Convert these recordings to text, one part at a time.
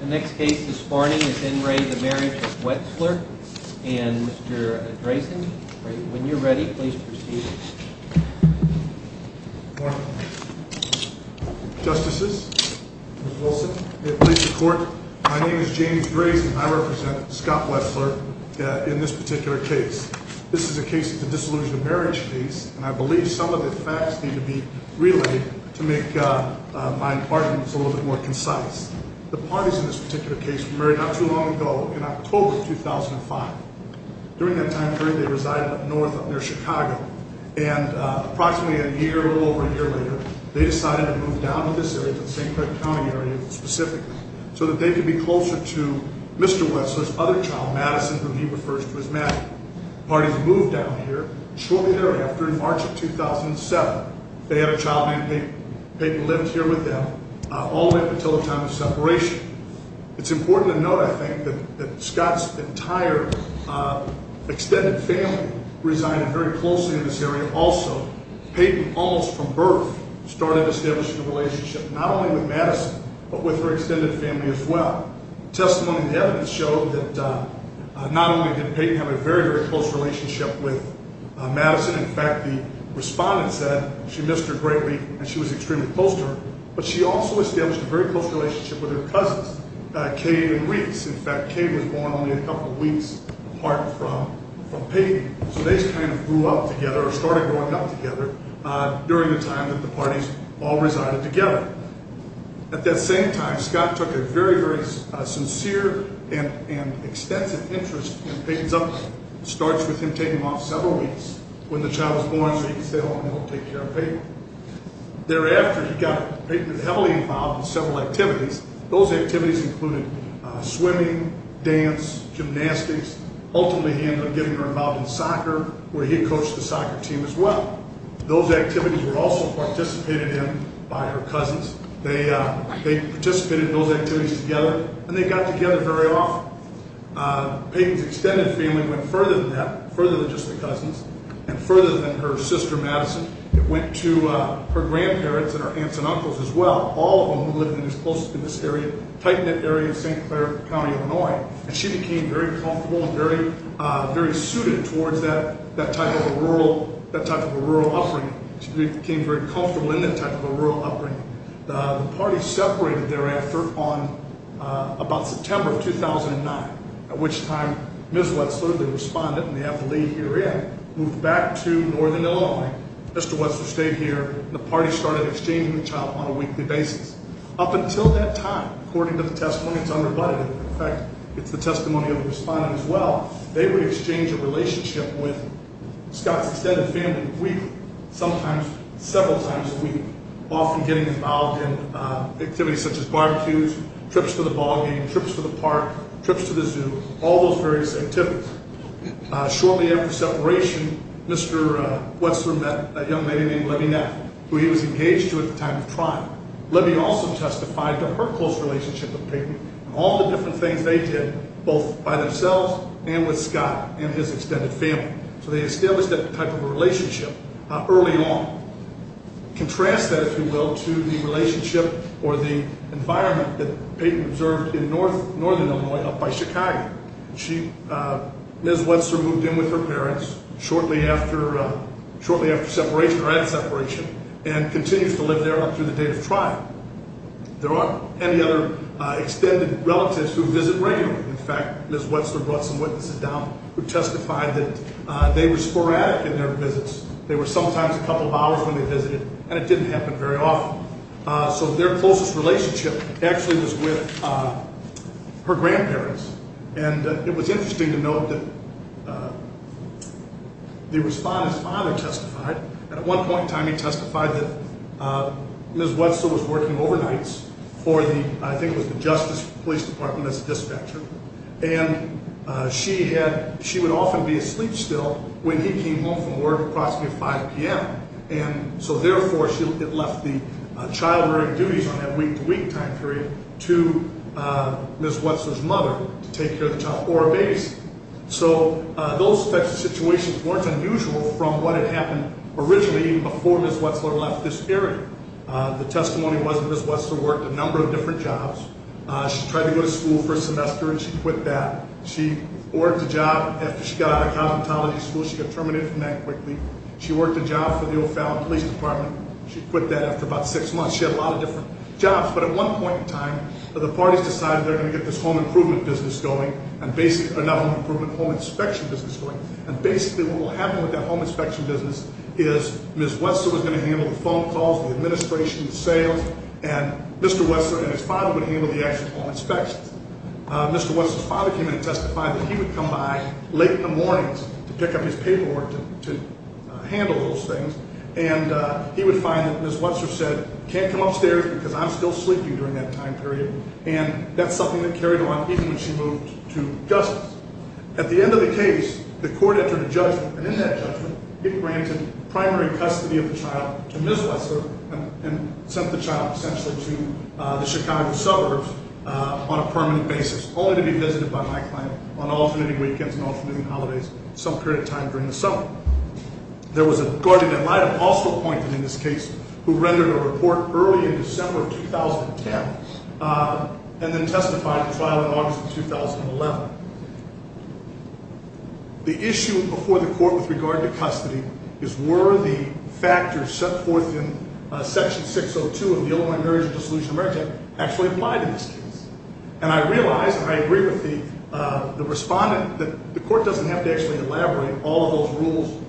The next case this morning is in re the Marriage of Wetzler and Mr. Drazen, when you're ready, please proceed. Justices, Mr. Wilson, please report. My name is James Drazen. I represent Scott Wetzler in this particular case. This is a case of the Disillusion of Marriage case and I believe some of the facts need to be relayed to make my arguments a little bit more concise. The parties in this particular case were married not too long ago, in October 2005. During that time period, they resided up north up near Chicago. And approximately a year or a little over a year later, they decided to move down to this area, to the St. Craig County area specifically, so that they could be closer to Mr. Wetzler's other child, Madison, whom he refers to as Maddie. The parties moved down here. Shortly thereafter, in March of 2007, they had a child named Peyton. Peyton lived here with them all the way up until the time of separation. It's important to note, I think, that Scott's entire extended family resided very closely in this area. Also, Peyton, almost from birth, started establishing a relationship, not only with Madison, but with her extended family as well. Testimony and evidence show that not only did Peyton have a very, very close relationship with Madison, in fact, the respondent said she missed her greatly and she was extremely close to her, but she also established a very close relationship with her cousins, Kay and Reese. In fact, Kay was born only a couple of weeks apart from Peyton. So they just kind of grew up together or started growing up together during the time that the parties all resided together. At that same time, Scott took a very, very sincere and extensive interest in Peyton's upbringing. It starts with him taking him off several weeks when the child was born so he could stay home and take care of Peyton. Thereafter, Peyton was heavily involved in several activities. Those activities included swimming, dance, gymnastics, ultimately he ended up getting her involved in soccer, where he coached the soccer team as well. Those activities were also participated in by her cousins. They participated in those activities together, and they got together very often. Peyton's extended family went further than that, further than just the cousins and further than her sister Madison. It went to her grandparents and her aunts and uncles as well, all of them who lived in this area, tight-knit area of St. Clair County, Illinois, and she became very comfortable and very suited towards that type of a rural upbringing. She became very comfortable in that type of a rural upbringing. The party separated thereafter on about September of 2009, at which time Ms. Wetzler, the respondent, and the FLE herein moved back to northern Illinois. Mr. Wetzler stayed here, and the party started exchanging the child on a weekly basis. Up until that time, according to the testimony, it's unrebutted. In fact, it's the testimony of the respondent as well. They would exchange a relationship with Scott's extended family a week, sometimes several times a week, often getting involved in activities such as barbecues, trips to the ballgame, trips to the park, trips to the zoo, all those various activities. Shortly after separation, Mr. Wetzler met a young lady named Libby Neff, who he was engaged to at the time of crime. Libby also testified to her close relationship with Peyton and all the different things they did, both by themselves and with Scott and his extended family. So they established that type of a relationship early on. Contrast that, if you will, to the relationship or the environment that Peyton observed in northern Illinois up by Chicago. Ms. Wetzler moved in with her parents shortly after separation or at separation and continues to live there up through the date of trial. There aren't any other extended relatives who visit regularly. In fact, Ms. Wetzler brought some witnesses down who testified that they were sporadic in their visits. They were sometimes a couple of hours when they visited, and it didn't happen very often. So their closest relationship actually was with her grandparents, and it was interesting to note that the respondent's father testified, and at one point in time he testified that Ms. Wetzler was working overnights for the, I think it was the Justice Police Department as a dispatcher, and she would often be asleep still when he came home from work at approximately 5 p.m., and so therefore it left the child-rearing duties on that week-to-week time period to Ms. Wetzler's mother to take care of the child or her babies. So those types of situations weren't unusual from what had happened originally before Ms. Wetzler left this area. The testimony was that Ms. Wetzler worked a number of different jobs. She tried to go to school for a semester, and she quit that. She worked a job after she got out of cosmetology school. She got terminated from that quickly. She worked a job for the O'Fallon Police Department. She quit that after about six months. She had a lot of different jobs, but at one point in time, the parties decided they were going to get this home improvement business going, not home improvement, home inspection business going, and basically what will happen with that home inspection business is Ms. Wetzler was going to handle the phone calls, the administration, the sales, and Mr. Wetzler and his father would handle the actual home inspections. Mr. Wetzler's father came in and testified that he would come by late in the mornings to pick up his paperwork to handle those things, and he would find that Ms. Wetzler said, can't come upstairs because I'm still sleeping during that time period, and that's something that carried on even when she moved to Gus's. At the end of the case, the court entered a judgment, and in that judgment, it granted primary custody of the child to Ms. Wetzler and sent the child essentially to the Chicago suburbs on a permanent basis, only to be visited by my client on alternating weekends and alternating holidays some period of time during the summer. There was a guardian that I had also appointed in this case who rendered a report early in December of 2010 and then testified in trial in August of 2011. The issue before the court with regard to custody is were the factors set forth in Section 602 of the Illinois Marriage and Dissolution of Marriage Act actually applied in this case. And I realize and I agree with the respondent that the court doesn't have to actually elaborate all of those rules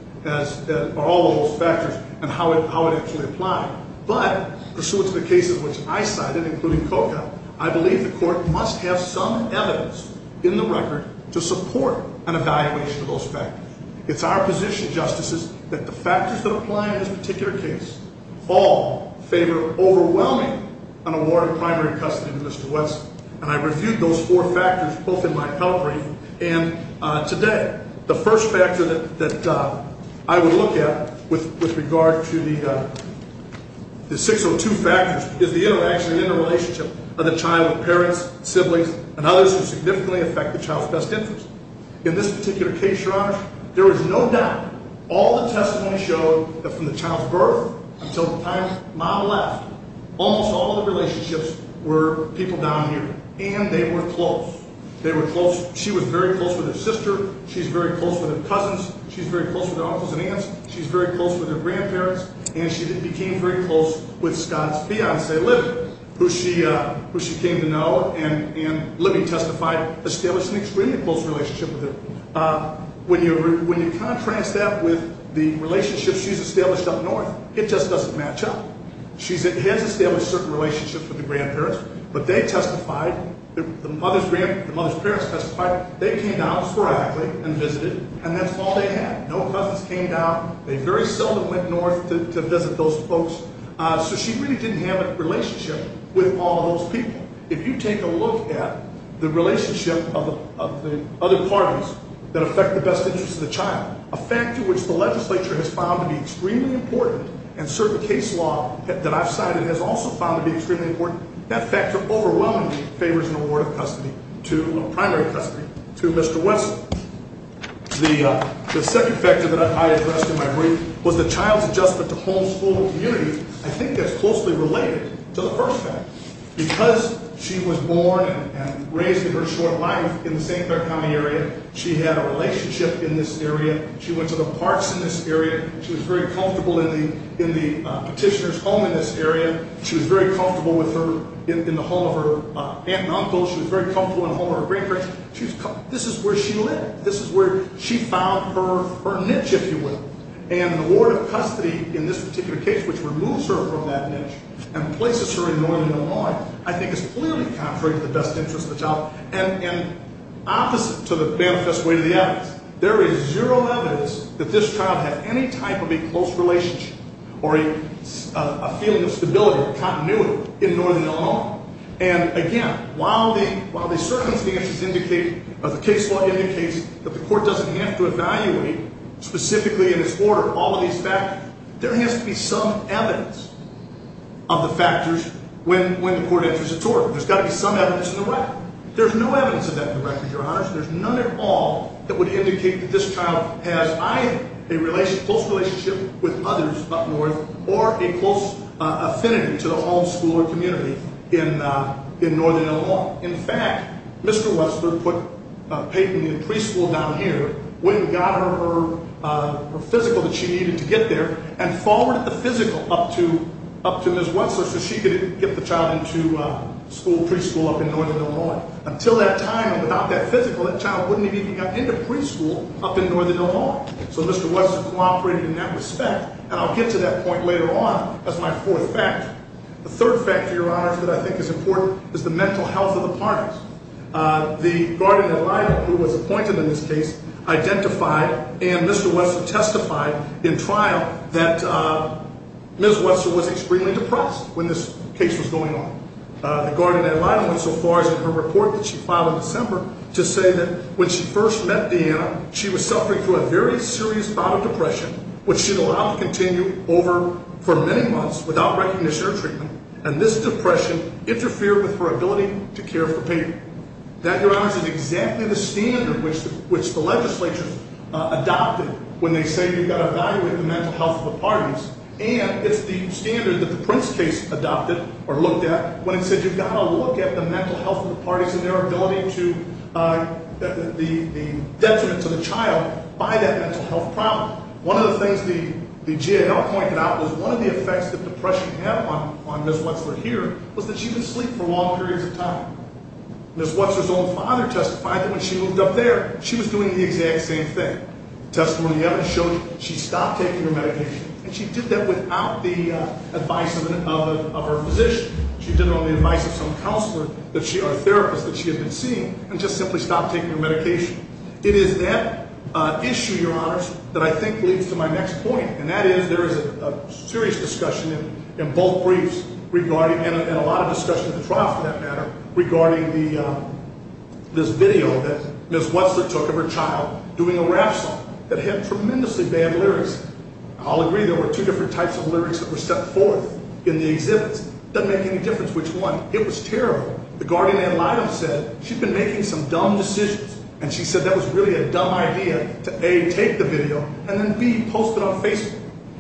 or all of those factors and how it actually applied. But pursuant to the cases which I cited, including COCA, I believe the court must have some evidence in the record to support an evaluation of those factors. It's our position, Justices, that the factors that apply in this particular case all favor overwhelmingly an award of primary custody to Ms. Wetzler. And I reviewed those four factors both in my appellate brief and today. The first factor that I would look at with regard to the 602 factors is the interaction and interrelationship of the child with parents, siblings, and others who significantly affect the child's best interest. In this particular case, Your Honor, there is no doubt. All the testimony showed that from the child's birth until the time mom left, almost all of the relationships were people down here, and they were close. They were close. She was very close with her sister. She's very close with her cousins. She's very close with her uncles and aunts. She's very close with her grandparents. And she became very close with Scott's fiance, Libby, who she came to know. And Libby testified, established an extremely close relationship with him. When you contrast that with the relationships she's established up north, it just doesn't match up. She has established certain relationships with her grandparents, but they testified, the mother's parents testified, they came down sporadically and visited, and that's all they had. No cousins came down. They very seldom went north to visit those folks. So she really didn't have a relationship with all those people. If you take a look at the relationship of the other parties that affect the best interest of the child, a factor which the legislature has found to be extremely important and certain case law that I've cited has also found to be extremely important, that factor overwhelmingly favors an award of primary custody to Mr. Wesson. The second factor that I addressed in my brief was the child's adjustment to homes, schools, and communities. I think that's closely related to the first factor because she was born and raised in her short life in the St. Clair County area. She had a relationship in this area. She went to the parks in this area. She was very comfortable in the petitioner's home in this area. She was very comfortable in the home of her aunt and uncle. She was very comfortable in the home of her grandparents. This is where she lived. This is where she found her niche, if you will, and the award of custody in this particular case, which removes her from that niche and places her in Northern Illinois, I think is clearly contrary to the best interest of the child and opposite to the manifest way to the evidence. There is zero evidence that this child had any type of a close relationship or a feeling of stability or continuity in Northern Illinois. And, again, while the circumstances indicate or the case law indicates that the court doesn't have to evaluate specifically in its order all of these factors, there has to be some evidence of the factors when the court enters its order. There's got to be some evidence in the record. There's no evidence of that in the record, Your Honors. There's none at all that would indicate that this child has either a close relationship with others up north or a close affinity to the homeschooler community in Northern Illinois. In fact, Mr. Westler put Peyton in preschool down here. Wayne got her her physical that she needed to get there and forwarded the physical up to Ms. Westler so she could get the child into school, preschool up in Northern Illinois. Until that time and without that physical, that child wouldn't have even gotten into preschool up in Northern Illinois. So Mr. Westler cooperated in that respect, and I'll get to that point later on as my fourth factor. The third factor, Your Honors, that I think is important is the mental health of the parties. The guardian ad litem who was appointed in this case identified and Mr. Westler testified in trial that Ms. Westler was extremely depressed when this case was going on. The guardian ad litem went so far as in her report that she filed in December to say that when she first met Deanna, she was suffering through a very serious bout of depression, which she'd allowed to continue over for many months without recognition or treatment, and this depression interfered with her ability to care for Peyton. That, Your Honors, is exactly the standard which the legislature adopted when they say you've got to evaluate the mental health of the parties, and it's the standard that the Prince case adopted or looked at when it said you've got to look at the mental health of the parties and their ability to, the detriment to the child by that mental health problem. One of the things the GAL pointed out was one of the effects that depression had on Ms. Westler here was that she could sleep for long periods of time. Ms. Westler's own father testified that when she moved up there, she was doing the exact same thing. Testimony evidence showed she stopped taking her medication, and she did that without the advice of her physician. She did it on the advice of some counselor or therapist that she had been seeing and just simply stopped taking her medication. It is that issue, Your Honors, that I think leads to my next point, and that is there is a serious discussion in both briefs regarding, and a lot of discussion at the trial, for that matter, regarding this video that Ms. Westler took of her child doing a rap song that had tremendously bad lyrics. I'll agree there were two different types of lyrics that were set forth in the exhibits. It doesn't make any difference which one. It was terrible. The guardian ad litem said she'd been making some dumb decisions, and she said that was really a dumb idea to, A, take the video, and then, B, post it on Facebook.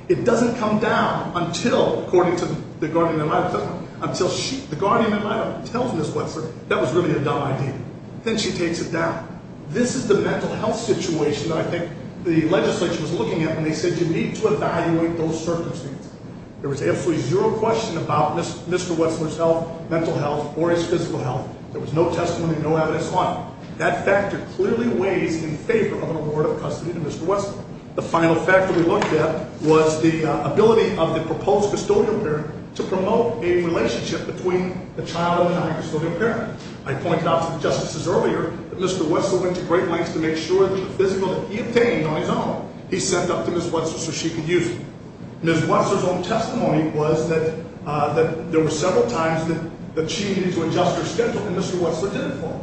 It doesn't come down until, according to the guardian ad litem, until the guardian ad litem tells Ms. Westler that was really a dumb idea. Then she takes it down. This is the mental health situation that I think the legislature was looking at when they said you need to evaluate those circumstances. There was absolutely zero question about Mr. Westler's health, mental health, or his physical health. There was no testimony, no evidence on it. That factor clearly weighs in favor of an award of custody to Mr. Westler. The final factor we looked at was the ability of the proposed custodial parent to promote a relationship between the child and the non-custodial parent. I pointed out to the justices earlier that Mr. Westler went to great lengths to make sure that the physical that he obtained on his own, he sent up to Ms. Westler so she could use it. Ms. Westler's own testimony was that there were several times that she needed to adjust her schedule and Mr. Westler didn't follow.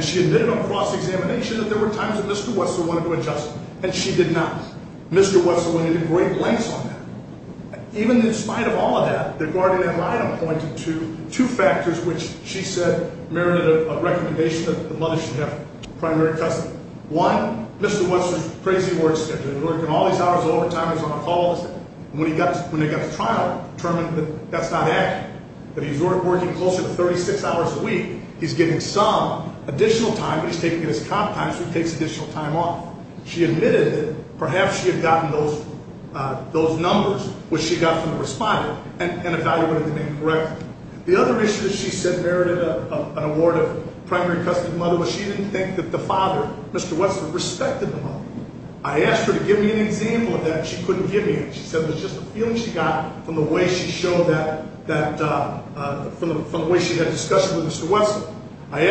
She admitted on cross-examination that there were times that Mr. Westler wanted to adjust it, and she did not. Mr. Westler went into great lengths on that. Even in spite of all of that, the guardian ad litem pointed to two factors which she said merited a recommendation that the mother should have primary custody. One, Mr. Westler's crazy work schedule. He's working all these hours of overtime, he's on a call all the time. When he got to trial, determined that that's not accurate, that he's working closer to 36 hours a week. He's giving some additional time, but he's taking it as comp time, so he takes additional time off. She admitted that perhaps she had gotten those numbers which she got from the responder and evaluated them incorrectly. The other issue that she said merited an award of primary custody to the mother was she didn't think that the father, Mr. Westler, respected the mother. I asked her to give me an example of that, and she couldn't give me it. She said it was just a feeling she got from the way she had discussions with Mr. Westler. I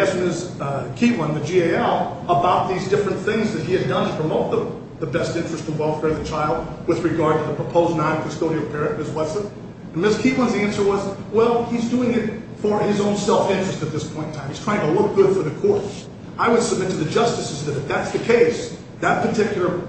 asked Ms. Keatland, the GAL, about these different things that he had done to promote the best interest and welfare of the child with regard to the proposed non-custodial parent, Ms. Westler. And Ms. Keatland's answer was, well, he's doing it for his own self-interest at this point in time. He's trying to look good for the court. I would submit to the justices that if that's the case, that particular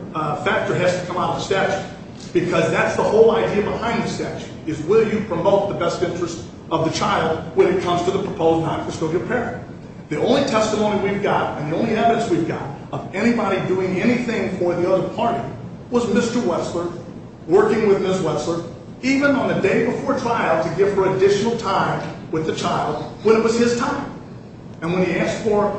factor has to come out of the statute because that's the whole idea behind the statute is will you promote the best interest of the child when it comes to the proposed non-custodial parent. The only testimony we've got and the only evidence we've got of anybody doing anything for the other party was Mr. Westler working with Ms. Westler, even on the day before trial, to give her additional time with the child when it was his time. And when he asked for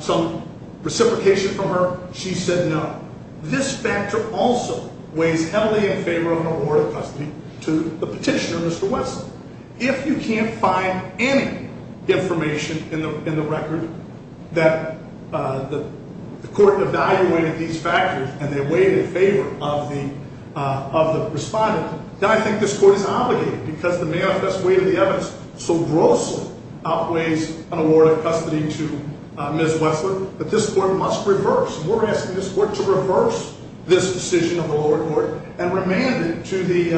some reciprocation from her, she said no. This factor also weighs heavily in favor of an award of custody to the petitioner, Mr. Westler. If you can't find any information in the record that the court evaluated these factors and they weighed in favor of the respondent, then I think this court is obligated because the manifest weight of the evidence so grossly outweighs an award of custody to Ms. Westler that this court must reverse. We're asking this court to reverse this decision of the lower court and remand it to the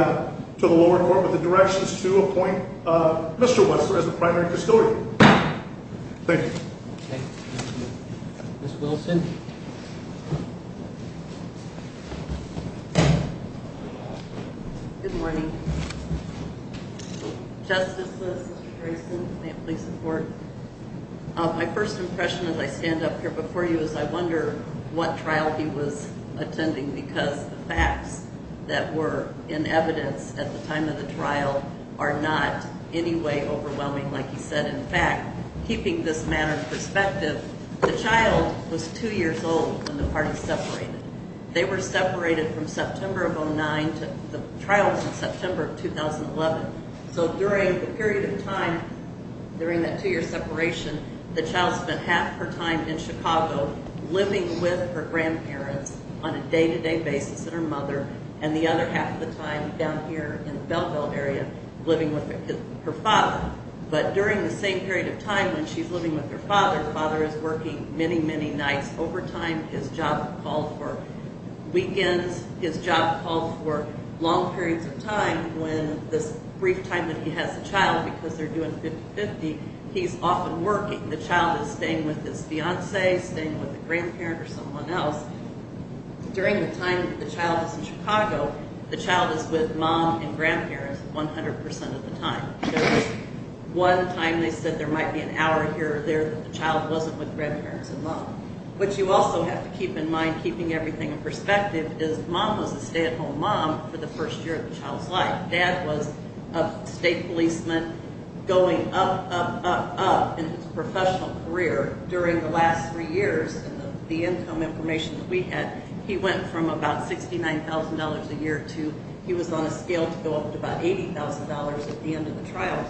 lower court with the directions to appoint Mr. Westler as the primary custodian. Thank you. Okay. Ms. Wilson. Good morning. Justices, Mr. Grayson, may I please support? My first impression as I stand up here before you is I wonder what trial he was attending because the facts that were in evidence at the time of the trial are not in any way overwhelming. Like he said, in fact, keeping this matter in perspective, the child was 2 years old when the parties separated. They were separated from September of 09 to the trial was in September of 2011. So during the period of time, during that 2-year separation, the child spent half her time in Chicago living with her grandparents on a day-to-day basis with her mother and the other half of the time down here in the Belleville area living with her father. But during the same period of time when she's living with her father, the father is working many, many nights over time. His job called for weekends. His job called for long periods of time when this brief time that he has the child, because they're doing 50-50, he's often working. The child is staying with his fiance, staying with a grandparent or someone else. During the time that the child is in Chicago, the child is with mom and grandparents 100% of the time. There was one time they said there might be an hour here or there that the child wasn't with grandparents and mom. What you also have to keep in mind, keeping everything in perspective, is mom was a stay-at-home mom for the first year of the child's life. Dad was a state policeman going up, up, up, up in his professional career. During the last 3 years, the income information that we had, he went from about $69,000 a year to he was on a scale to go up to about $80,000 at the end of the trial.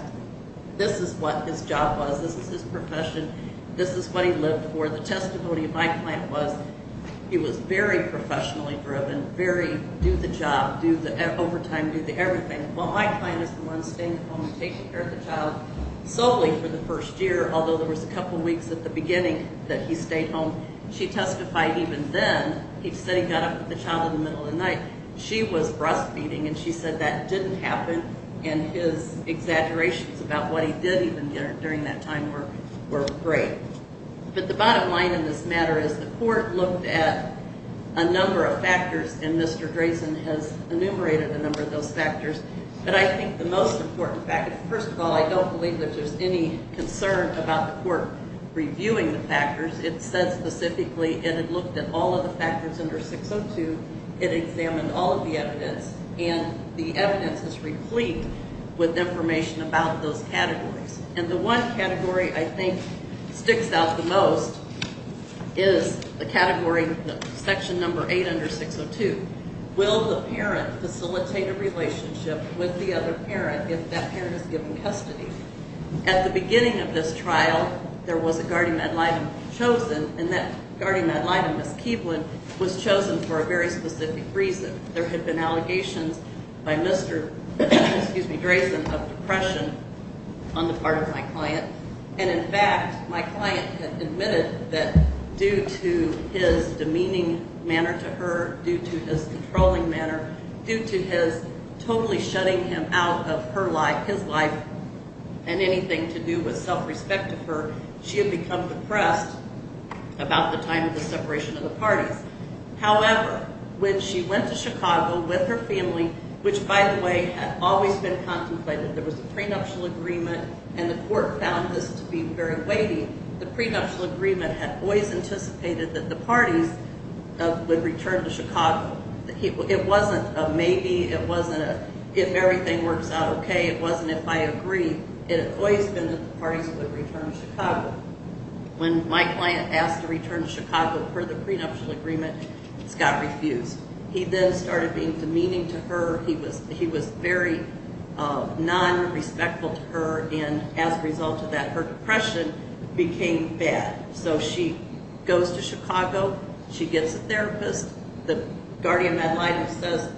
This is what his job was. This is his profession. This is what he lived for. The testimony of my client was he was very professionally driven, very do-the-job, do-the-overtime, do-the-everything. Well, my client is the one staying at home and taking care of the child solely for the first year, although there was a couple weeks at the beginning that he stayed home. She testified even then, he said he got up with the child in the middle of the night. She was breastfeeding, and she said that didn't happen, and his exaggerations about what he did even during that time were great. But the bottom line in this matter is the court looked at a number of factors, and Mr. Drazen has enumerated a number of those factors. But I think the most important factor, first of all, I don't believe that there's any concern about the court reviewing the factors. It said specifically it had looked at all of the factors under 602. It examined all of the evidence, and the evidence is replete with information about those categories. And the one category I think sticks out the most is the category, section number 8 under 602. Will the parent facilitate a relationship with the other parent if that parent is given custody? At the beginning of this trial, there was a guardian ad litem chosen, and that guardian ad litem, Ms. Keeblin, was chosen for a very specific reason. There had been allegations by Mr. Drazen of depression on the part of my client. And in fact, my client had admitted that due to his demeaning manner to her, due to his controlling manner, due to his totally shutting him out of his life and anything to do with self-respect to her, she had become depressed about the time of the separation of the parties. However, when she went to Chicago with her family, which, by the way, had always been contemplated, there was a prenuptial agreement, and the court found this to be very weighty. The prenuptial agreement had always anticipated that the parties would return to Chicago. It wasn't a maybe, it wasn't a if everything works out okay, it wasn't if I agree. It had always been that the parties would return to Chicago. When my client asked to return to Chicago per the prenuptial agreement, Scott refused. He then started being demeaning to her. He was very non-respectful to her, and as a result of that, her depression became bad. So she goes to Chicago, she gets a therapist. The guardian ad litem says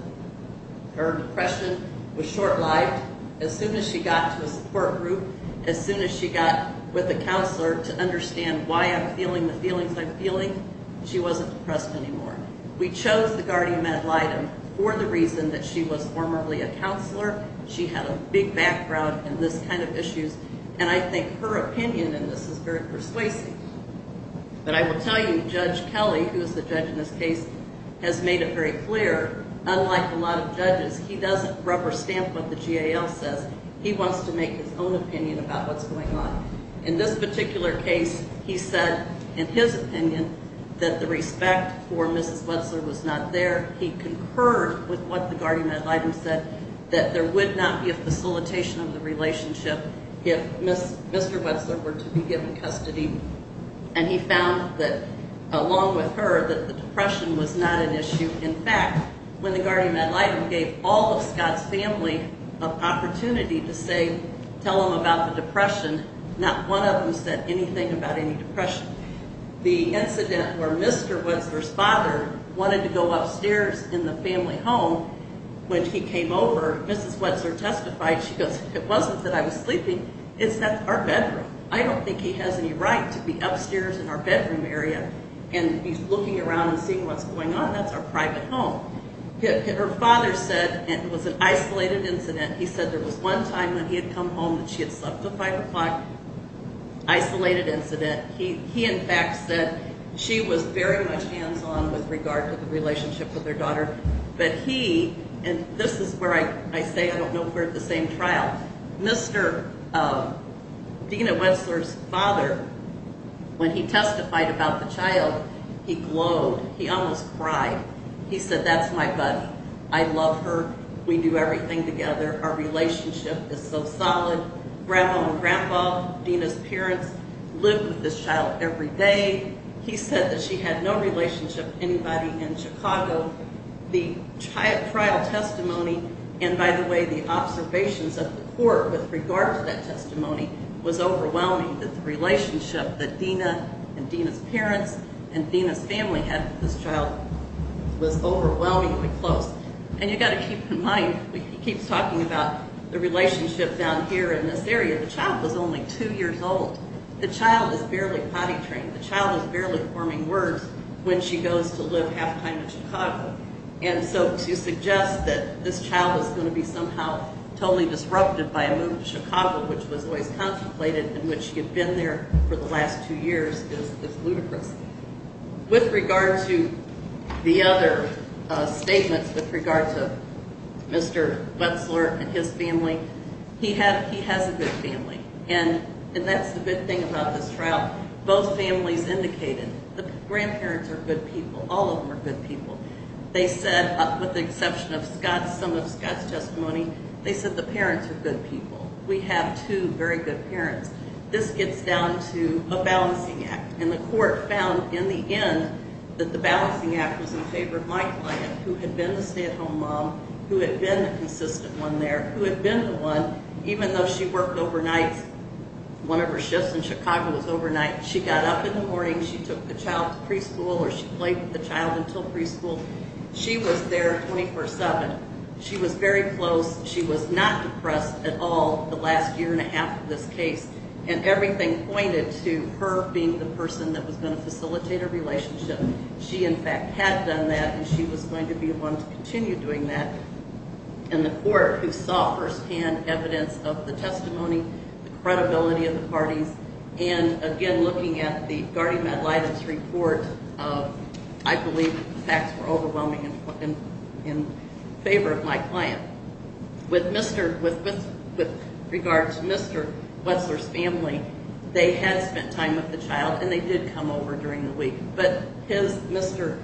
her depression was short-lived. As soon as she got to a support group, as soon as she got with a counselor to understand why I'm feeling the feelings I'm feeling, she wasn't depressed anymore. We chose the guardian ad litem for the reason that she was formerly a counselor, she had a big background in this kind of issues, and I think her opinion in this is very persuasive. But I will tell you Judge Kelly, who is the judge in this case, has made it very clear, unlike a lot of judges, he doesn't rubber stamp what the GAL says. He wants to make his own opinion about what's going on. In this particular case, he said in his opinion that the respect for Mrs. Wetzler was not there. He concurred with what the guardian ad litem said, that there would not be a facilitation of the relationship if Mr. Wetzler were to be given custody. And he found that, along with her, that the depression was not an issue. In fact, when the guardian ad litem gave all of Scott's family an opportunity to say, tell them about the depression, not one of them said anything about any depression. The incident where Mr. Wetzler's father wanted to go upstairs in the family home when he came over, Mrs. Wetzler testified, she goes, it wasn't that I was sleeping. It's that our bedroom. I don't think he has any right to be upstairs in our bedroom area and be looking around and seeing what's going on. That's our private home. Her father said it was an isolated incident. He said there was one time when he had come home that she had slept until 5 o'clock. Isolated incident. He, in fact, said she was very much hands-on with regard to the relationship with her daughter. But he, and this is where I say I don't know if we're at the same trial, Mr. Dina Wetzler's father, when he testified about the child, he glowed. He almost cried. He said, that's my buddy. I love her. We do everything together. Our relationship is so solid. Grandma and Grandpa, Dina's parents, live with this child every day. He said that she had no relationship with anybody in Chicago. The trial testimony and, by the way, the observations of the court with regard to that testimony was overwhelming that the relationship that Dina and Dina's parents and Dina's family had with this child was overwhelmingly close. And you've got to keep in mind, he keeps talking about the relationship down here in this area. The child was only two years old. The child is barely potty trained. The child is barely forming words when she goes to live half-time in Chicago. And so to suggest that this child is going to be somehow totally disrupted by a move to Chicago, which was always contemplated in which she had been there for the last two years, is ludicrous. With regard to the other statements with regard to Mr. Wetzler and his family, he has a good family. And that's the good thing about this trial. Both families indicated the grandparents are good people. All of them are good people. They said, with the exception of some of Scott's testimony, they said the parents are good people. We have two very good parents. This gets down to a balancing act. And the court found in the end that the balancing act was in favor of my client, who had been a stay-at-home mom, who had been a consistent one there, who had been the one, even though she worked overnight, one of her shifts in Chicago was overnight, she got up in the morning, she took the child to preschool or she played with the child until preschool. She was there 24-7. She was very close. She was not depressed at all the last year and a half of this case. And everything pointed to her being the person that was going to facilitate a relationship. She, in fact, had done that, and she was going to be the one to continue doing that. And the court, who saw firsthand evidence of the testimony, the credibility of the parties, and, again, looking at the guardian ad litem's report, I believe the facts were overwhelming in favor of my client. With regard to Mr. Wessler's family, they had spent time with the child, and they did come over during the week. But his, Mr.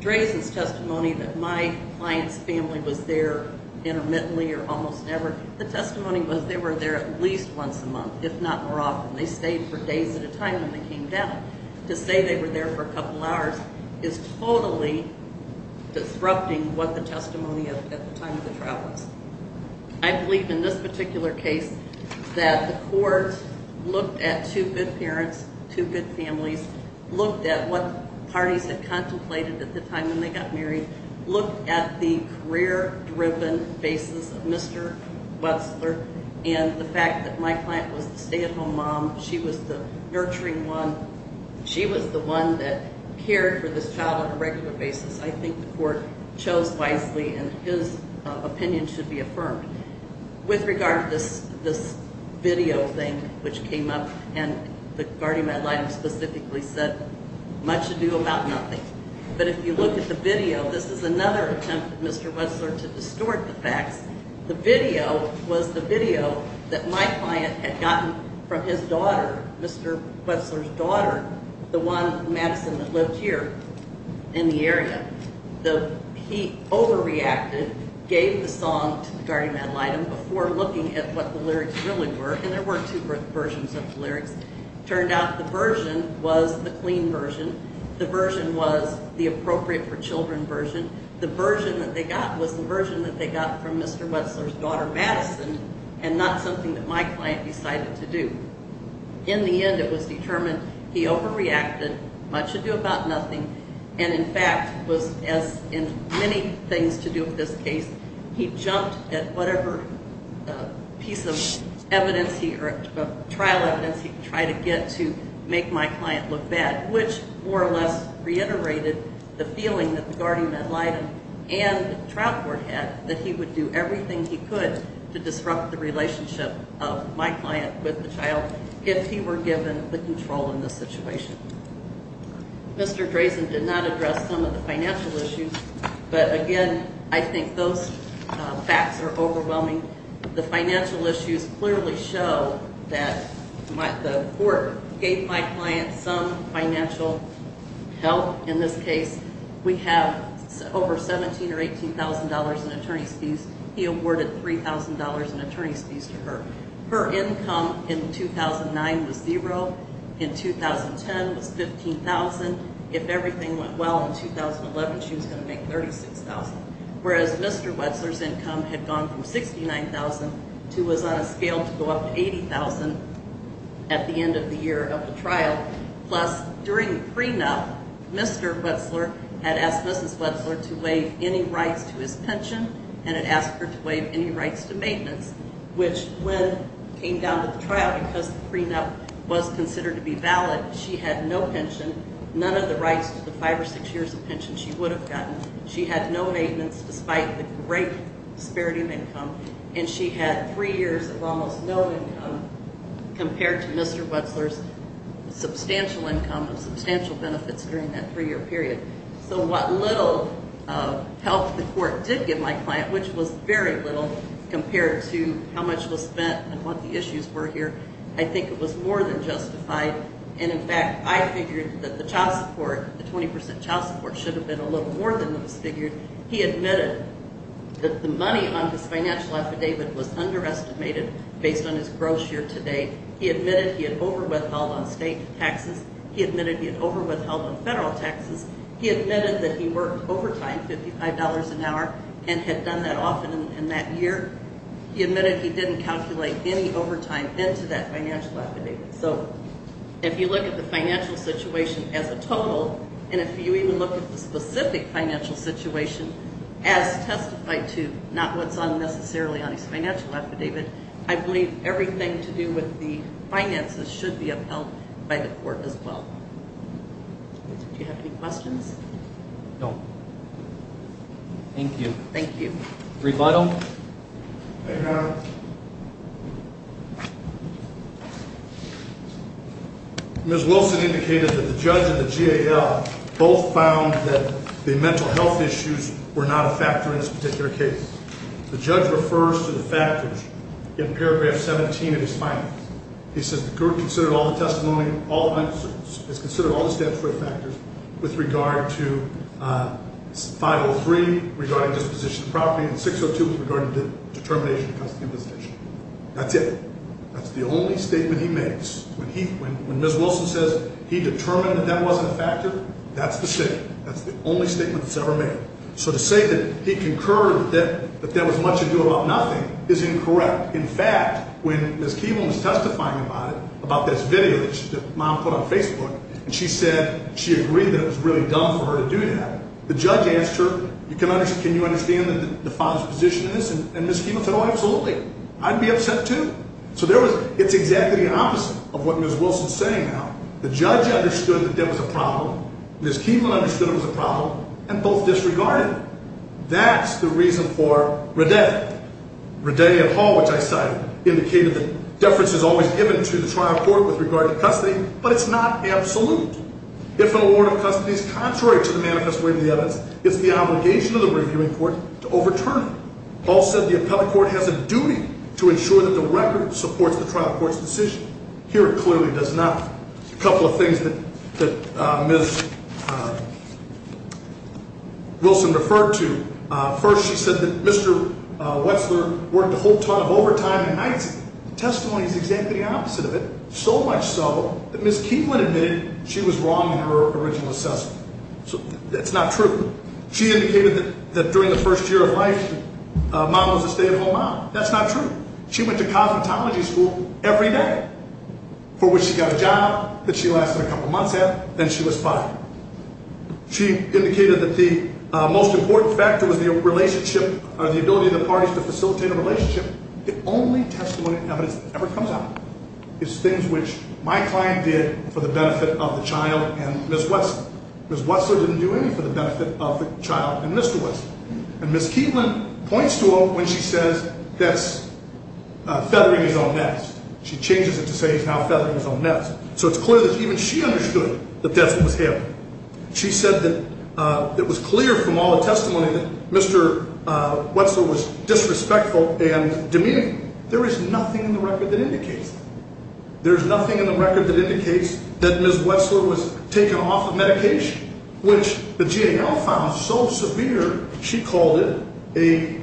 Drazen's testimony that my client's family was there intermittently or almost never, the testimony was they were there at least once a month, if not more often. They stayed for days at a time when they came down. To say they were there for a couple hours is totally disrupting what the testimony at the time of the trial was. I believe in this particular case that the court looked at two good parents, two good families, looked at what parties had contemplated at the time when they got married, looked at the career-driven basis of Mr. Wessler, and the fact that my client was the stay-at-home mom, she was the nurturing one, she was the one that cared for this child on a regular basis. I think the court chose wisely, and his opinion should be affirmed. With regard to this video thing which came up, and the guardian ad litem specifically said much ado about nothing. But if you look at the video, this is another attempt at Mr. Wessler to distort the facts. The video was the video that my client had gotten from his daughter, Mr. Wessler's daughter, the one, Madison, that lived here in the area. He overreacted, gave the song to the guardian ad litem before looking at what the lyrics really were, and there were two versions of the lyrics. It turned out the version was the clean version. The version was the appropriate for children version. The version that they got was the version that they got from Mr. Wessler's daughter, Madison, and not something that my client decided to do. In the end, it was determined he overreacted, much ado about nothing, and in fact was, as in many things to do with this case, he jumped at whatever piece of evidence or trial evidence he could try to get to make my client look bad, which more or less reiterated the feeling that the guardian ad litem and the trial court had that he would do everything he could to disrupt the relationship of my client with the child if he were given the control in this situation. Mr. Drazen did not address some of the financial issues, but again, I think those facts are overwhelming. The financial issues clearly show that the court gave my client some financial help in this case. We have over $17,000 or $18,000 in attorney's fees. He awarded $3,000 in attorney's fees to her. Her income in 2009 was zero. In 2010, it was $15,000. If everything went well in 2011, she was going to make $36,000, whereas Mr. Wessler's income had gone from $69,000 to was on a scale to go up to $80,000 at the end of the year of the trial. Plus, during the prenup, Mr. Wessler had asked Mrs. Wessler to waive any rights to his pension and had asked her to waive any rights to maintenance, which when it came down to the trial, because the prenup was considered to be valid, she had no pension, none of the rights to the five or six years of pension she would have gotten. She had no maintenance despite the great disparity of income, and she had three years of almost no income compared to Mr. Wessler's substantial income and substantial benefits during that three-year period. So what little help the court did give my client, which was very little compared to how much was spent and what the issues were here, I think it was more than justified. And in fact, I figured that the child support, the 20% child support, should have been a little more than it was figured. He admitted that the money on his financial affidavit was underestimated based on his gross year to date. He admitted he had overwithheld on state taxes. He admitted he had overwithheld on federal taxes. He admitted that he worked overtime, $55 an hour, and had done that often in that year. He admitted he didn't calculate any overtime into that financial affidavit. So if you look at the financial situation as a total, and if you even look at the specific financial situation as testified to, not what's unnecessarily on his financial affidavit, I believe everything to do with the finances should be upheld by the court as well. Do you have any questions? No. Thank you. Thank you. Revital? I have. Ms. Wilson indicated that the judge and the GAL both found that the mental health issues were not a factor in this particular case. The judge refers to the factors in paragraph 17 of his findings. He says the court considered all the testimony, all the answers, has considered all the statutory factors with regard to 503 regarding disposition of property and 602 regarding the determination of custody of the position. That's it. That's the only statement he makes. When Ms. Wilson says he determined that that wasn't a factor, that's the statement. That's the only statement that's ever made. So to say that he concurred that there was much to do about nothing is incorrect. In fact, when Ms. Keeble was testifying about it, about this video that Mom put on Facebook, and she said she agreed that it was really dumb for her to do that, the judge asked her, can you understand the father's position in this? And Ms. Keeble said, oh, absolutely. I'd be upset too. So it's exactly the opposite of what Ms. Wilson's saying now. The judge understood that there was a problem. Ms. Keeble understood there was a problem and both disregarded it. That's the reason for Redetti. Redetti and Hall, which I cited, indicated that deference is always given to the trial court with regard to custody, but it's not absolute. If an award of custody is contrary to the manifest way of the evidence, it's the obligation of the reviewing court to overturn it. Also, the appellate court has a duty to ensure that the record supports the trial court's decision. Here it clearly does not. A couple of things that Ms. Wilson referred to. First, she said that Mr. Wetzler worked a whole ton of overtime and nights. The testimony is exactly the opposite of it, so much so that Ms. Keeble admitted she was wrong in her original assessment. That's not true. She indicated that during the first year of life, Mom was a stay-at-home mom. That's not true. She went to cosmetology school every day, for which she got a job that she lasted a couple months at, then she was fired. She indicated that the most important factor was the relationship or the ability of the parties to facilitate a relationship. The only testimony evidence that ever comes out is things which my client did for the benefit of the child and Ms. Wilson. Ms. Wetzler didn't do any for the benefit of the child and Mr. Wetzler. And Ms. Keeble points to it when she says that's feathering his own nest. She changes it to say he's now feathering his own nest. So it's clear that even she understood that that's what was happening. She said that it was clear from all the testimony that Mr. Wetzler was disrespectful and demeaning. There is nothing in the record that indicates that. There is nothing in the record that indicates that Ms. Wetzler was taken off of medication, which the GAL found so severe, she called it a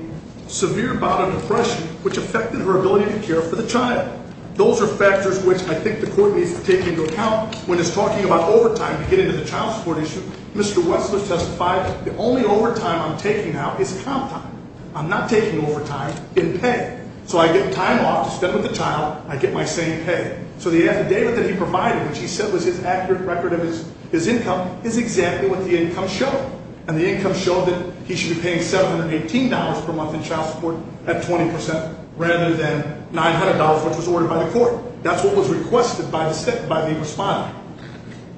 severe bout of depression, which affected her ability to care for the child. Those are factors which I think the court needs to take into account when it's talking about overtime to get into the child support issue. Mr. Wetzler testified, the only overtime I'm taking now is comp time. I'm not taking overtime in pay. So I get time off to spend with the child. I get my same pay. So the affidavit that he provided, which he said was his accurate record of his income, is exactly what the income showed. And the income showed that he should be paying $718 per month in child support at 20% rather than $900, which was ordered by the court. That's what was requested by the respondent.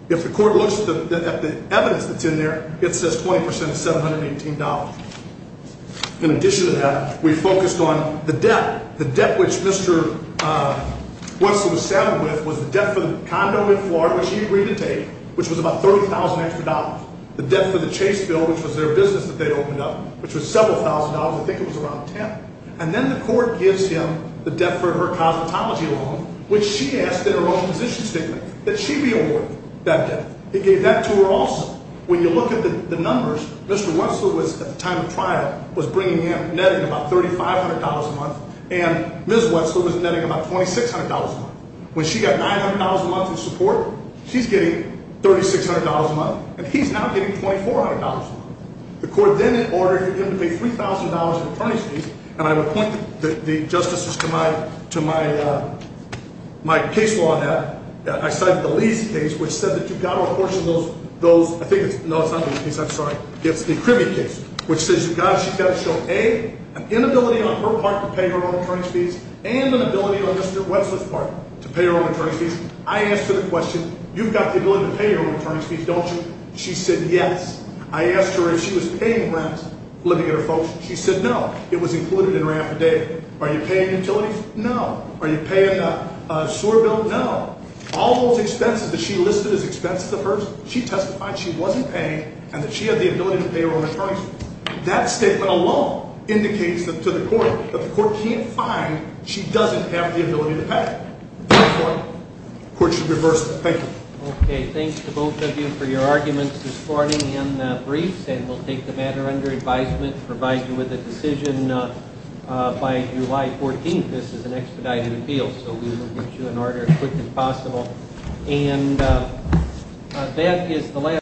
If the court looks at the evidence that's in there, it says 20% is $718. In addition to that, we focused on the debt. The debt which Mr. Wetzler was settled with was the debt for the condo in Florida, which he agreed to take, which was about $30,000 extra. The debt for the Chase bill, which was their business that they opened up, which was several thousand dollars. I think it was around $10,000. And then the court gives him the debt for her cosmetology loan, which she asked in her own position statement that she be awarded that debt. It gave that to her also. When you look at the numbers, Mr. Wetzler was, at the time of trial, was bringing in, netting about $3,500 a month. And Ms. Wetzler was netting about $2,600 a month. When she got $900 a month in support, she's getting $3,600 a month, and he's now getting $2,400 a month. The court then ordered him to pay $3,000 in attorney's fees. And I would point the justices to my case law that I cited, the Lee's case, which said that you've got to apportion those – I think it's – no, it's not Lee's case, I'm sorry. It's the Krimme case, which says you've got to – she's got to show, A, an inability on her part to pay her own attorney's fees, and an ability on Mr. Wetzler's part to pay her own attorney's fees. I asked her the question, you've got the ability to pay your own attorney's fees, don't you? She said yes. I asked her if she was paying rent, living at her folks'. She said no. It was included in her affidavit. Are you paying utilities? No. Are you paying a sewer bill? No. All those expenses that she listed as expenses of hers, she testified she wasn't paying and that she had the ability to pay her own attorney's fees. That statement alone indicates to the court that the court can't find she doesn't have the ability to pay. Therefore, the court should reverse that. Thank you. Okay. Thanks to both of you for your arguments this morning and the briefs, and we'll take the matter under advisement and provide you with a decision by July 14th. This is an expedited appeal, so we will get you an order as quick as possible. And that is the last.